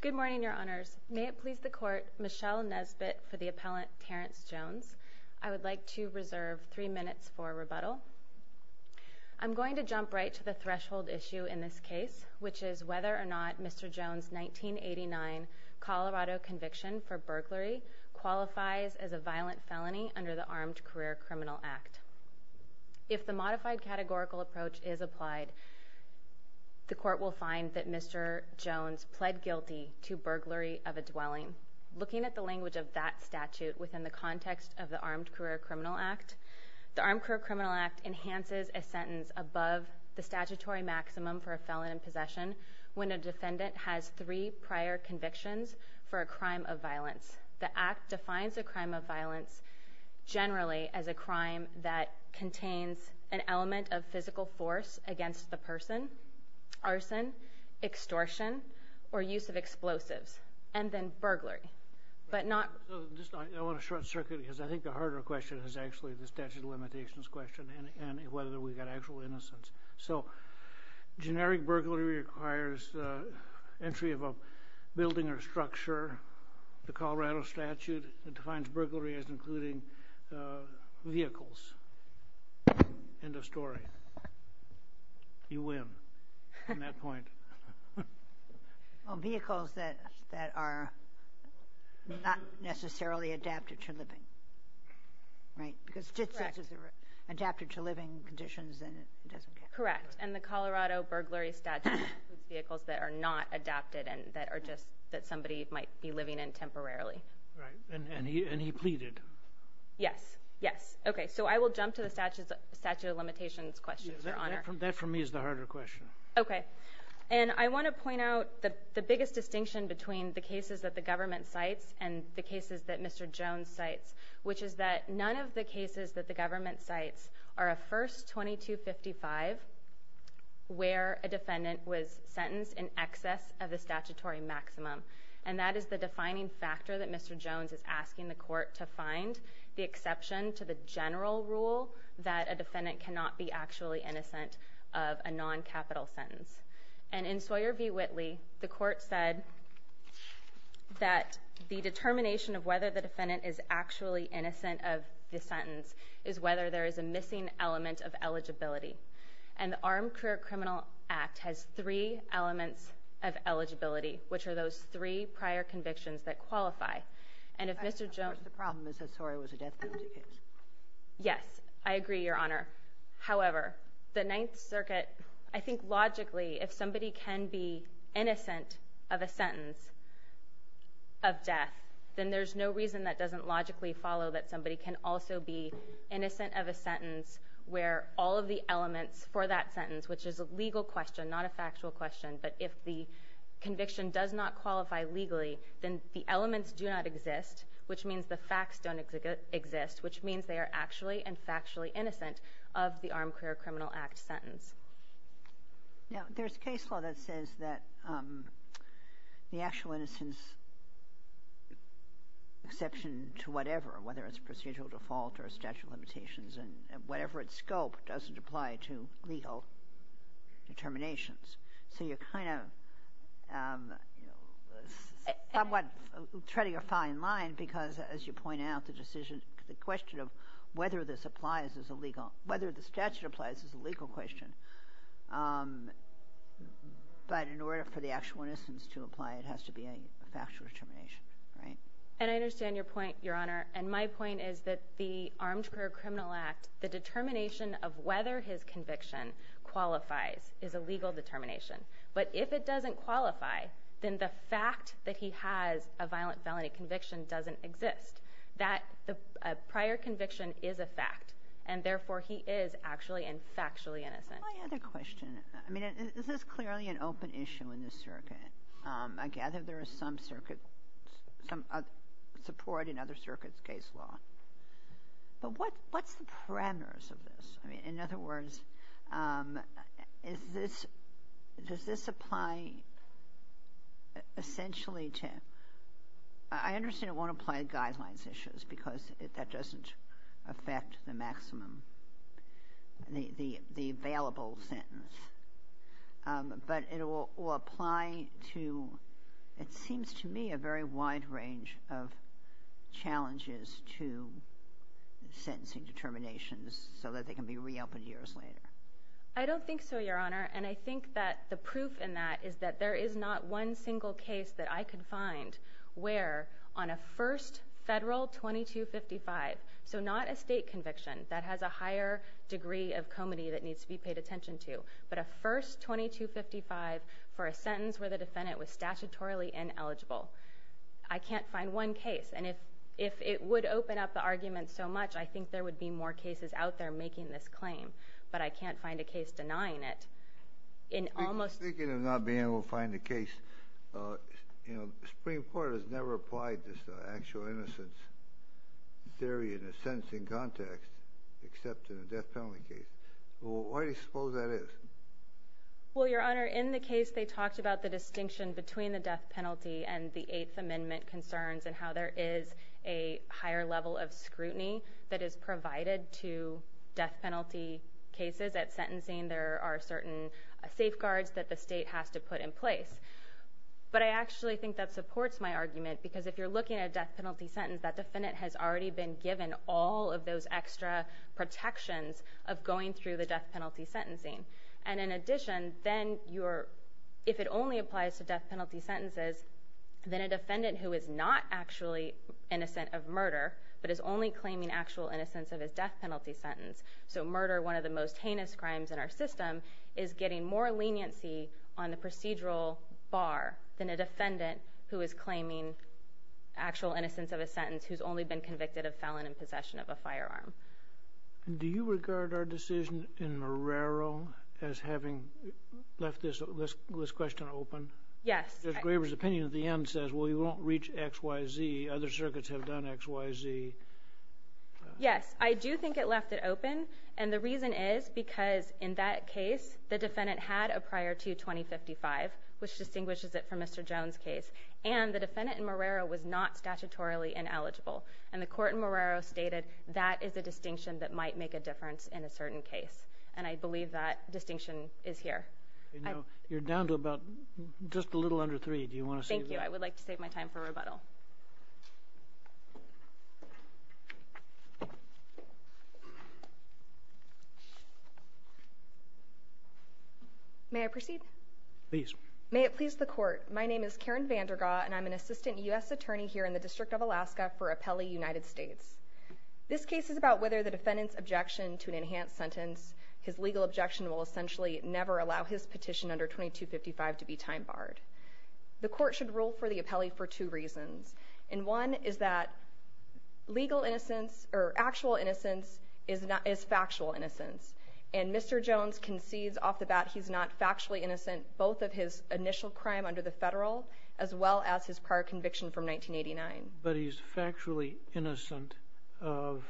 Good morning, Your Honors. May it please the Court, Michelle Nesbitt for the appellant Terrance Jones. I would like to reserve three minutes for rebuttal. I'm going to jump right to the threshold issue in this case, which is whether or not Mr. Jones' 1989 Colorado conviction for burglary qualifies as a violent felony under the Armed Career Criminal Act. If the modified categorical approach is applied, the Court will find that Mr. Jones pled guilty to burglary of a dwelling. Looking at the language of that statute within the context of the Armed Career Criminal Act, the Armed Career Criminal Act enhances a sentence above the statutory maximum for a felon in possession when a defendant has three prior convictions for a crime of violence. The Act defines a crime of violence generally as a crime that contains an element of physical force against the person, arson, extortion, or use of explosives, and then burglary. I want to short-circuit because I think the harder question is actually the statute of limitations question and whether we've got actual innocence. So generic burglary requires entry of a building or structure. The Colorado statute defines burglary as including vehicles. End of story. You win on that point. Well, vehicles that are not necessarily adapted to living, right? Because just as they're adapted to living conditions, then it doesn't count. Correct. And the Colorado burglary statute includes vehicles that are not adapted and that are just that somebody might be living in temporarily. Right. And he pleaded. Yes. Yes. Okay. So I will jump to the statute of limitations questions, Your Honor. That, for me, is the harder question. Okay. And I want to point out the biggest distinction between the cases that the government cites and the cases that Mr. Jones cites, which is that none of the cases that the government cites are a first 2255 where a defendant was sentenced in excess of the statutory maximum. And that is the defining factor that Mr. Jones is asking the court to find the exception to the general rule that a defendant cannot be actually innocent of a non-capital sentence. And in Sawyer v. Whitley, the court said that the determination of whether the defendant is actually innocent of the sentence is whether there is a missing element of eligibility. And the Armed Career Criminal Act has three elements of eligibility, which are those three prior convictions that qualify. And if Mr. Jones... The problem is that Sawyer was a death penalty case. Yes. I agree, Your Honor. However, the Ninth Circuit, I think logically, if somebody can be innocent of a sentence of death, then there's no reason that doesn't logically follow that somebody can also be innocent of a sentence where all of the elements for that sentence, which is a legal question, not a factual question, but if the conviction does not qualify legally, then the elements do not exist, which means the facts don't exist, which means they are actually and factually innocent of the Armed Career Criminal Act sentence. Now, there's case law that says that the actual innocence exception to whatever, whether it's procedural default or statute of limitations and whatever its scope, doesn't apply to legal determinations. So you're kind of, you know, somewhat treading a fine line because, as you point out, the decision, the question of whether this applies as a legal, whether the statute applies as a legal question, but in order for the actual innocence to apply, it has to be a factual determination, right? And I understand your point, Your Honor, and my point is that the Armed Career Criminal Act, the determination of whether his conviction qualifies is a legal determination, but if it doesn't qualify, then the fact that he has a violent felony conviction doesn't exist. That prior conviction is a fact, and therefore he is actually and factually innocent. I have a question. I mean, is this clearly an open issue in this circuit? I gather there is some support in other circuits' case law, but what's the parameters of this? I mean, in other issues because that doesn't affect the maximum, the available sentence, but it will apply to, it seems to me, a very wide range of challenges to sentencing determinations so that they can be reopened years later. I don't think so, Your Honor, and I think that the proof in that is that there is not one single case that I could find where, on a first federal 2255, so not a state conviction that has a higher degree of comity that needs to be paid attention to, but a first 2255 for a sentence where the defendant was statutorily ineligible. I can't find one case, and if it would open up the argument so much, I think there would be more cases out there making this claim, but I can't find a case denying it in almost... Speaking of not being able to find a case, you know, the Supreme Court has never applied this actual innocence theory in a sentencing context except in a death penalty case. Why do you suppose that is? Well, Your Honor, in the case, they talked about the distinction between the death penalty and the Eighth Amendment concerns and how there is a higher level of scrutiny that is provided to death penalty that the state has to put in place, but I actually think that supports my argument because if you're looking at a death penalty sentence, that defendant has already been given all of those extra protections of going through the death penalty sentencing, and in addition, then if it only applies to death penalty sentences, then a defendant who is not actually innocent of murder but is only claiming actual innocence of his death penalty sentence, so murder, one of the most heinous crimes in our system, is getting more leniency on the procedural bar than a defendant who is claiming actual innocence of a sentence who's only been convicted of felon in possession of a firearm. Do you regard our decision in Marrero as having left this question open? Yes. Judge Graber's opinion at the end says, well, you won't reach X, Y, Z. Other circuits have done X, Y, Z. Yes, I do think it left it open, and the reason is because in that case, the defendant had a prior to 2055, which distinguishes it from Mr. Jones' case, and the defendant in Marrero was not statutorily ineligible, and the court in Marrero stated that is a distinction that might make a difference in a certain case, and I believe that distinction is here. You're down to about just a little under three. Do you want to say that? Thank you. I would like to save my time for rebuttal. May I proceed? Please. May it please the court. My name is Karen Vandergaat, and I'm an assistant U.S. attorney here in the District of Alaska for Appellee United States. This case is about whether the defendant's objection to an enhanced sentence, his legal objection will essentially never allow his petition under 2255 to be time barred. The court should rule for the appellee for two reasons, and one is that legal innocence or actual innocence is factual innocence, and Mr. Jones concedes off the bat he's not factually innocent both of his initial crime under the federal as well as his prior conviction from 1989. But he's factually innocent of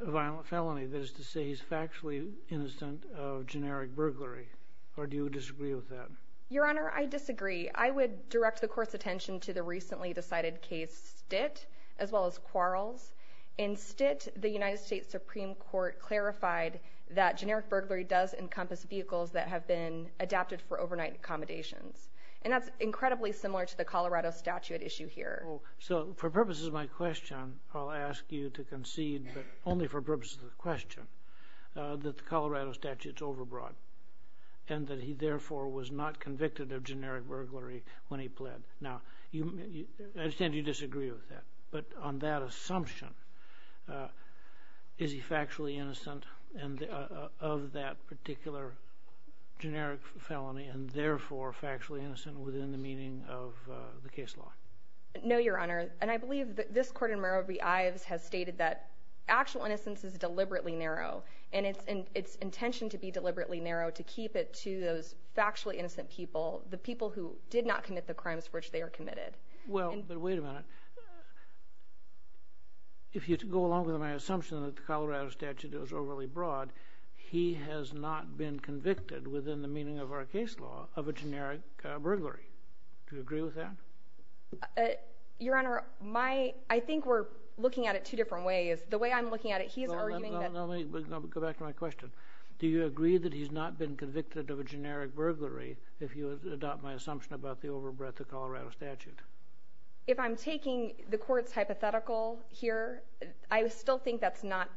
a violent felony. That is to say he's factually innocent of generic burglary, or do you disagree with that? Your Honor, I disagree. I would direct the court's attention to the recently decided case, Stitt, as well as Quarles. In Stitt, the United States Supreme Court clarified that generic burglary does encompass vehicles that have been adapted for overnight accommodations. And that's incredibly similar to the Colorado statute issue here. So for purposes of my question, I'll ask you to concede, but only for purposes of the question, that the Colorado statute's overbroad, and that he therefore was not convicted of generic burglary when he pled. Now, I understand you disagree with that, but on that assumption, is he factually innocent of that particular generic felony, and therefore factually innocent within the meaning of the case law? No, Your Honor, and I believe that this court in Murrow v. Ives has stated that actual innocence is deliberately narrow, and it's intentioned to be deliberately narrow to keep it to those factually innocent people, the people who did not commit the crimes for which they are committed. Well, but wait a minute. If you go along with my assumption that the Colorado statute is overly broad, he has not been convicted within the meaning of our case law of a generic burglary. Do you agree with that? Your Honor, I think we're looking at it two different ways. The way I'm looking at it, he's arguing that... No, let me go back to my question. Do you agree that he's not been convicted of a generic burglary if you adopt my assumption about the overbreadth of Colorado statute? If I'm taking the court's hypothetical here, I still think that's not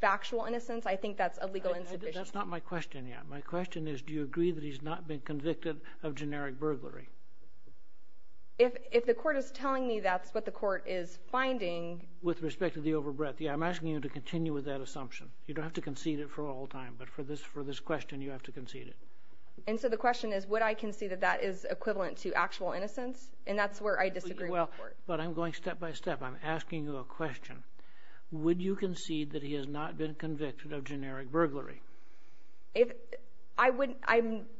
factual innocence. I think that's a legal insubstitution. That's not my question yet. My question is, do you agree that he's not been convicted of generic burglary? If the court is telling me that's what the court is finding... With respect to the overbreadth. I'm asking you to continue with that assumption. You don't have to concede it for all time, but for this question, you have to concede it. And so the question is, would I concede that that is equivalent to actual innocence? And that's where I disagree with the court. But I'm going step by step. I'm asking you a question. Would you concede that he has not been convicted of generic burglary?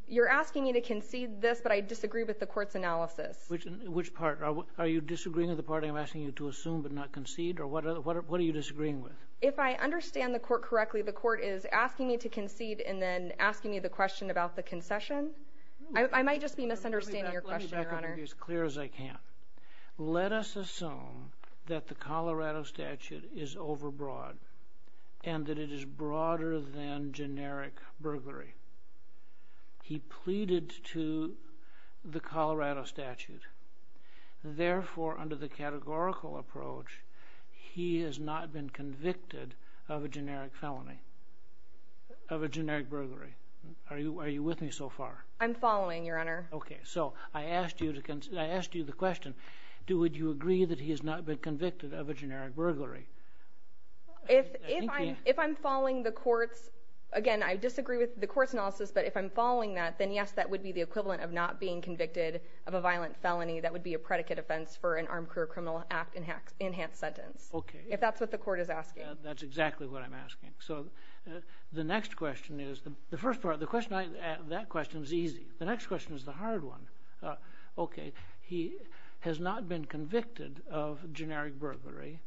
You're asking me to concede this, but I disagree with the court's analysis. Which part? Are you disagreeing with the part I'm asking you to assume but not concede? Or what are you disagreeing with? If I understand the court correctly, the court is asking me to concede and then asking me the question about the concession. I might just be misunderstanding your question, Your Honor. Let me be as clear as I can. Let us assume that the Colorado statute is overbroad and that it is broader than generic burglary. He pleaded to the Colorado statute. Therefore, under the categorical approach, he has not been convicted of a generic felony, of a generic burglary. Are you with me so far? I'm following, Your Honor. Okay. So I asked you the question. Do you agree that he has not been convicted of a generic burglary? If I'm following the court's, again, I disagree with the court's analysis, but if I'm following that, then yes, that would be the equivalent of not being convicted of a violent felony. That would be a predicate offense for an armed career criminal act enhanced sentence. Okay. If that's what the court is asking. That's exactly what I'm asking. So the next question is, the first part of the question, that question is easy. The next question is the hard one. Okay. He has not been convicted of generic burglary.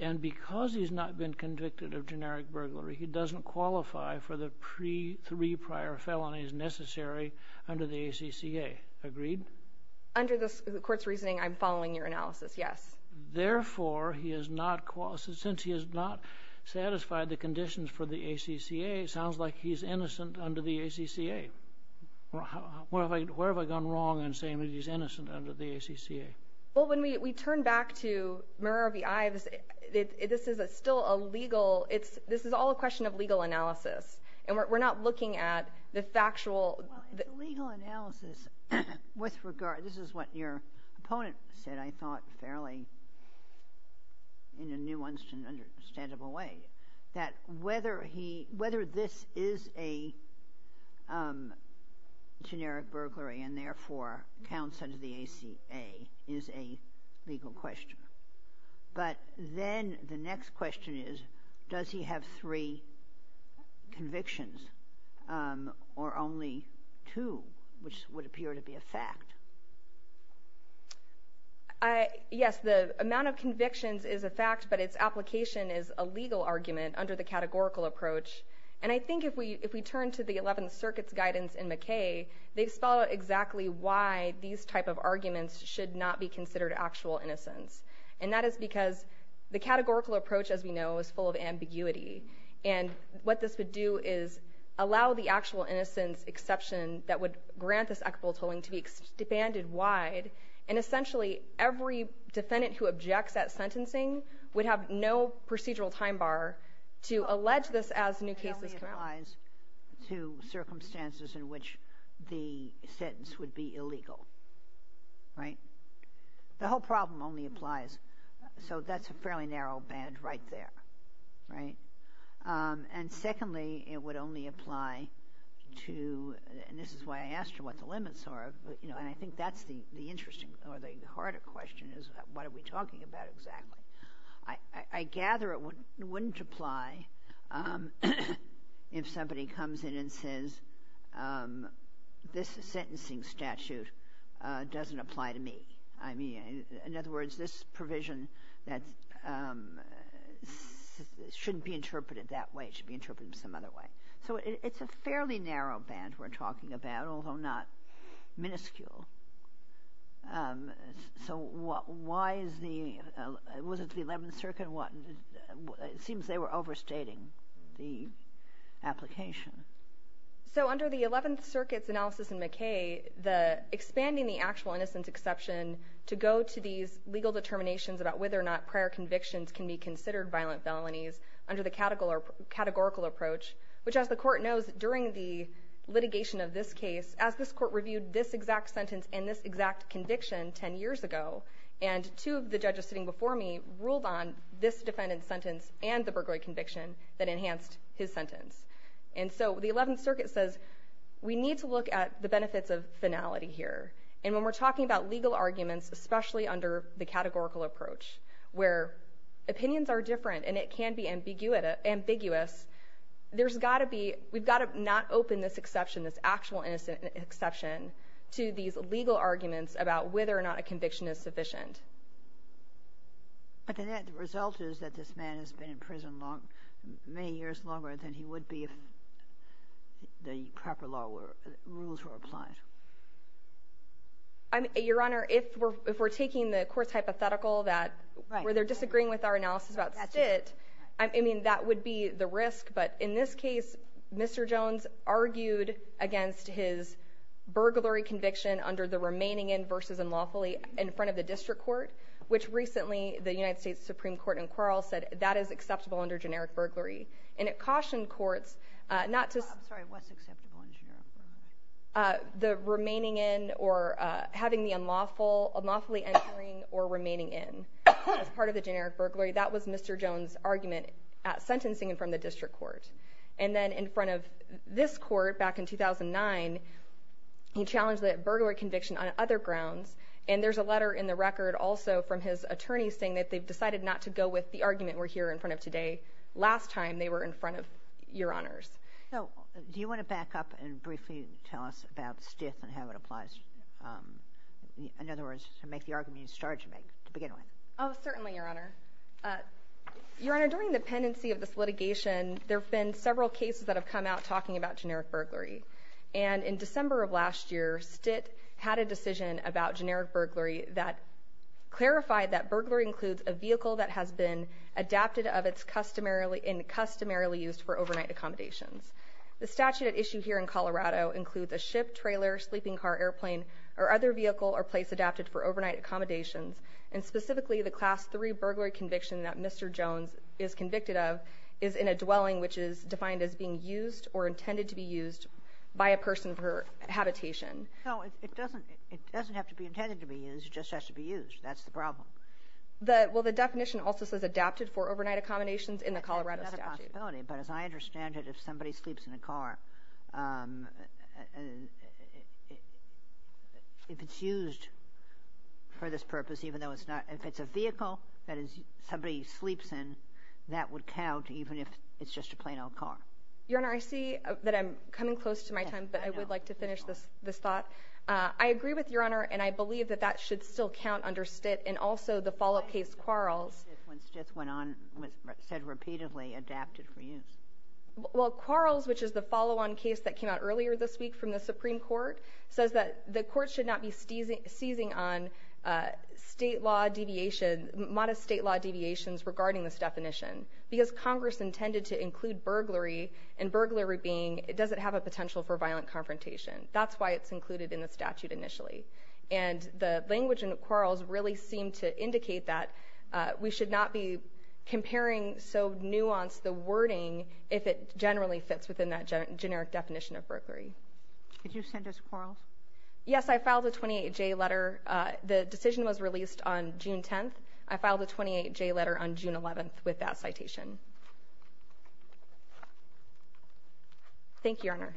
And because he's not been convicted of generic burglary, he doesn't qualify for the three prior felonies necessary under the ACCA. Agreed? Under the court's reasoning, I'm following your analysis. Yes. Therefore, he has not qualified, since he has not satisfied the conditions for the ACCA, it sounds like he's innocent under the ACCA. Where have I gone wrong in saying that he's innocent under the ACCA? Well, when we turn back to Muravi Ives, this is still a legal, it's, this is all a question of legal analysis. And we're not looking at the factual. Legal analysis with regard, this is what your opponent said, I thought, fairly in a nuanced and understandable way, that whether he, whether this is a generic burglary and therefore counts under the ACA is a legal question. But then the next question is, does he have three convictions or only two, which would appear to be a fact? Yes, the amount of convictions is a fact, but its application is a legal argument under the categorical approach. And I think if we, if we turn to the 11th Circuit's guidance in McKay, they spell out exactly why these type of arguments should not be considered actual innocence. And that is because the categorical approach, as we know, is full of ambiguity. And what this would do is allow the actual innocence exception that would grant this equitable tolling to be expanded wide. And essentially, every defendant who objects at sentencing would have no procedural time bar to allege this as new cases come out. It only applies to circumstances in which the sentence would be illegal, right? The whole problem only applies, so that's a fairly narrow band right there, right? And secondly, it would only apply to, and this is why I asked you what the limits are, you know, and I think that's the interesting or the harder question is, what are we talking about exactly? I gather it wouldn't apply if somebody comes in and says, this sentencing statute doesn't apply to me. I mean, in other words, this provision that shouldn't be interpreted that way should be interpreted some other way. So it's a fairly narrow band we're talking about, although not minuscule. So what, why is the, was it the 11th Circuit, what, it seems they were overstating the application. So under the 11th Circuit's analysis in McKay, the expanding the actual innocence exception to go to these legal determinations about whether or not prior convictions can be considered violent felonies under the categorical approach, which as the court knows, during the litigation of this case, as this court reviewed this exact sentence and this exact conviction 10 years ago, and two of the judges sitting before me ruled on this defendant's sentence and the burglary conviction that enhanced his sentence. And so the 11th Circuit says, we need to look at the benefits of finality here. And when we're talking about legal arguments, especially under the categorical approach, where opinions are different and it can be ambiguous, there's got to be, we've got to not open this exception, this actual innocent exception to these legal arguments about whether or not a conviction is sufficient. But the result is that this man has been in prison long, many years longer than he would be if the proper law were, rules were applied. Your Honor, if we're, if we're taking the court's hypothetical that, where they're disagreeing with our analysis about sit, I mean, that would be the risk. But in this case, Mr. Jones argued against his burglary conviction under the remaining in versus unlawfully in front of the district court, which recently the United States Supreme Court in Quarrel said that is acceptable under generic burglary. And it cautioned courts not to, I'm sorry, what's acceptable in generic burglary? The remaining in or having the unlawful, unlawfully entering or remaining in as part of the generic burglary. That was Mr. Jones' argument at sentencing and from the district court. And then in front of this court back in 2009, he challenged that burglary conviction on other grounds. And there's a letter in the record also from his attorney saying that they've decided not to go with the argument we're here in front of today. Last time they were in front of, Your Honors. So do you want to back up and briefly tell us about stiff and how it applies? In other words, to make the argument you started to make to begin with? Oh, certainly, Your Honor. Your Honor, during the pendency of this litigation, there have been several cases that have come out talking about generic burglary. And in December of last year, STIT had a decision about generic burglary that clarified that burglary includes a vehicle that has been adapted of its customarily used for overnight accommodations. The statute at issue here in Colorado includes a ship, trailer, sleeping car, airplane, or other vehicle or place adapted for overnight accommodations. And specifically, the Class 3 burglary conviction that Mr. Jones is convicted of is in a dwelling which is defined as being used or intended to be used by a person per habitation. No, it doesn't have to be intended to be used. It just has to be used. That's the problem. Well, the definition also says adapted for overnight accommodations in the Colorado statute. That's another possibility. But as I understand it, if somebody sleeps in a car, if it's used for this purpose, even though it's not, if it's a vehicle that somebody sleeps in, that would count even if it's just a plain old car. Your Honor, I see that I'm coming close to my time, but I would like to finish this thought. I agree with Your Honor, and I believe that that should still count under STIT. And also, the follow-up case, Quarles. When STIT went on, was said repeatedly, adapted for use. Well, Quarles, which is the follow-on case that came out earlier this week from the Supreme Court, says that the court should not be seizing on state law deviation, modest state law deviations regarding this definition. Because Congress intended to include burglary, and burglary being, it doesn't have a potential for violent confrontation. That's why it's included in the statute initially. And the language in Quarles really seemed to indicate that we should not be comparing so nuanced the wording if it generally fits within that generic definition of burglary. Did you send this to Quarles? Yes, I filed a 28-J letter. The decision was released on June 10th. I filed a 28-J letter on June 11th with that citation. Thank you, Your Honor.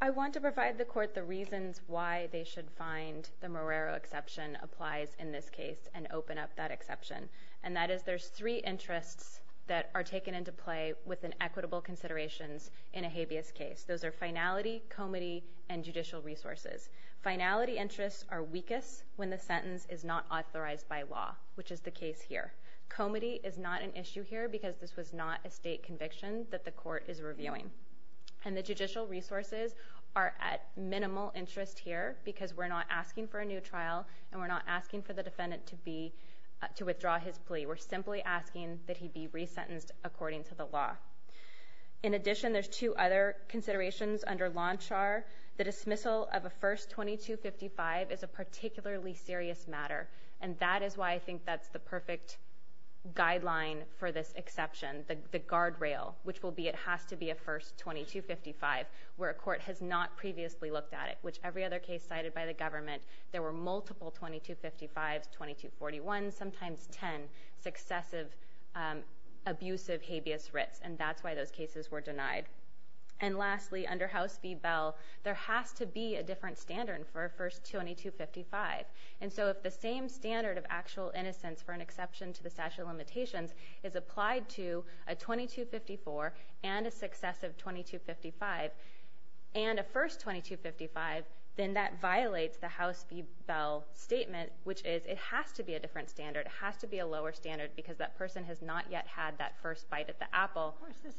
I want to provide the court the reasons why they should find the Morero exception applies in this case and open up that exception. And that is there's three interests that are taken into play with an equitable considerations in a habeas case. Those are finality, comity, and judicial resources. Finality interests are weakest when the sentence is not authorized by law, which is the case here. Comity is not an issue here because this was not a state conviction that the court is reviewing. And the judicial resources are at minimal interest here because we're not asking for a new trial and we're not asking for the defendant to be, to withdraw his plea. We're simply asking that he be resentenced according to the law. In addition, there's two other considerations under Lonchar. The dismissal of a first 2255 is a particularly serious matter. And that is why I think that's the perfect guideline for this exception, the guardrail, which will be, it has to be a first 2255 where a court has not previously looked at it, which every other case cited by the government. There were multiple 2255s, 2241s, sometimes 10 successive abusive habeas writs. And that's why those cases were denied. And lastly, under House v. Bell, there has to be a different standard for a first 2255. And so if the same standard of actual innocence for an exception to the statute of limitations is applied to a 2254 and a successive 2255 and a first 2255, then that violates the House v. Of course, this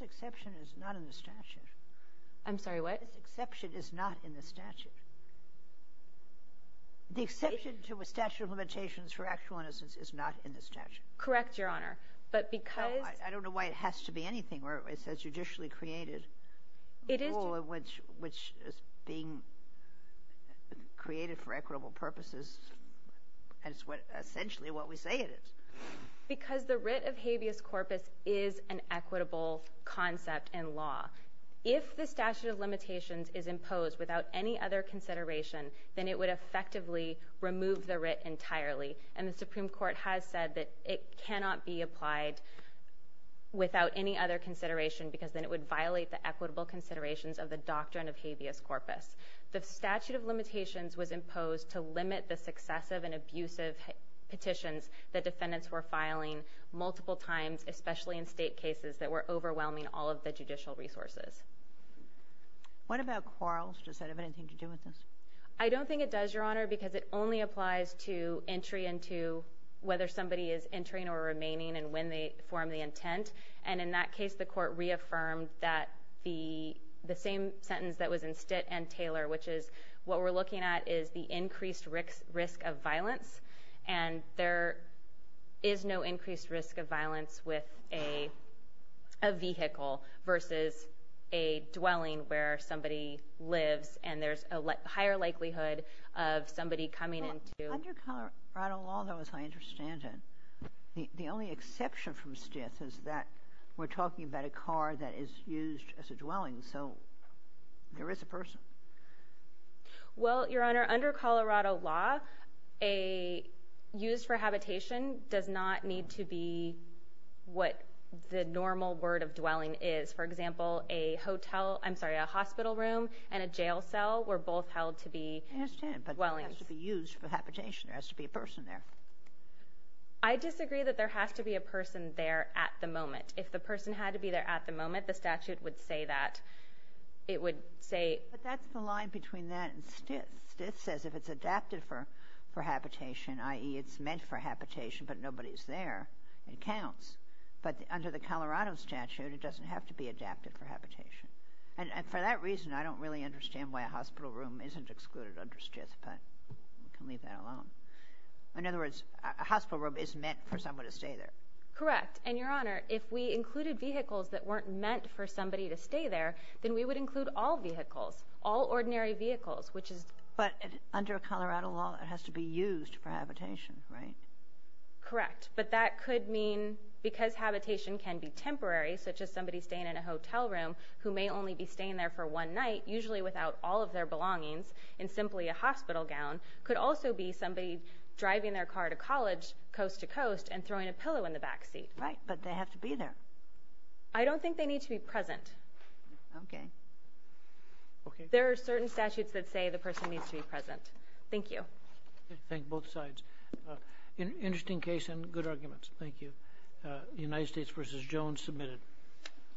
exception is not in the statute. I'm sorry, what? This exception is not in the statute. The exception to a statute of limitations for actual innocence is not in the statute. Correct, Your Honor. But because. I don't know why it has to be anything where it says judicially created. It is. Which is being created for equitable purposes. And it's essentially what we say it is. Because the writ of habeas corpus is an equitable concept in law. If the statute of limitations is imposed without any other consideration, then it would effectively remove the writ entirely. And the Supreme Court has said that it cannot be applied without any other consideration because then it would violate the equitable considerations of the doctrine of habeas corpus. The statute of limitations was imposed to limit the successive and abusive petitions that defendants were filing multiple times, especially in state cases that were overwhelming all of the judicial resources. What about quarrels? Does that have anything to do with this? I don't think it does, Your Honor, because it only applies to entry into whether somebody is entering or remaining and when they form the intent. And in that case, the court reaffirmed that the same sentence that was in Stitt and Taylor, which is what we're looking at is the increased risk of violence. And there is no increased risk of violence with a vehicle versus a dwelling where somebody lives. And there's a higher likelihood of somebody coming in to. Under Colorado law, though, as I understand it, the only exception from Stitt is that we're talking about a car that is used as a dwelling. So there is a person. Well, Your Honor, under Colorado law, a use for habitation does not need to be what the normal word of dwelling is. For example, a hotel. I'm sorry, a hospital room and a jail cell were both held to be dwellings to be used for habitation. There has to be a person there. I disagree that there has to be a person there at the moment. If the person had to be there at the moment, the statute would say that it would say. But that's the line between that and Stitt. Stitt says if it's adapted for habitation, i.e. it's meant for habitation, but nobody's there, it counts. But under the Colorado statute, it doesn't have to be adapted for habitation. And for that reason, I don't really understand why a hospital room isn't excluded under Stitt. But we can leave that alone. In other words, a hospital room is meant for someone to stay there. Correct. And Your Honor, if we included vehicles that weren't meant for somebody to stay there, then we would include all vehicles, all ordinary vehicles, which is. But under Colorado law, it has to be used for habitation, right? Correct. But that could mean because habitation can be temporary, such as somebody staying in a hotel room who may only be staying there for one night, usually without all of their belongings. And simply a hospital gown could also be somebody driving their car to college, coast to coast, and throwing a pillow in the backseat. Right. But they have to be there. I don't think they need to be present. Okay. Okay. There are certain statutes that say the person needs to be present. Thank you. Thank both sides. Interesting case and good arguments. Thank you. United States v. Jones, submitted.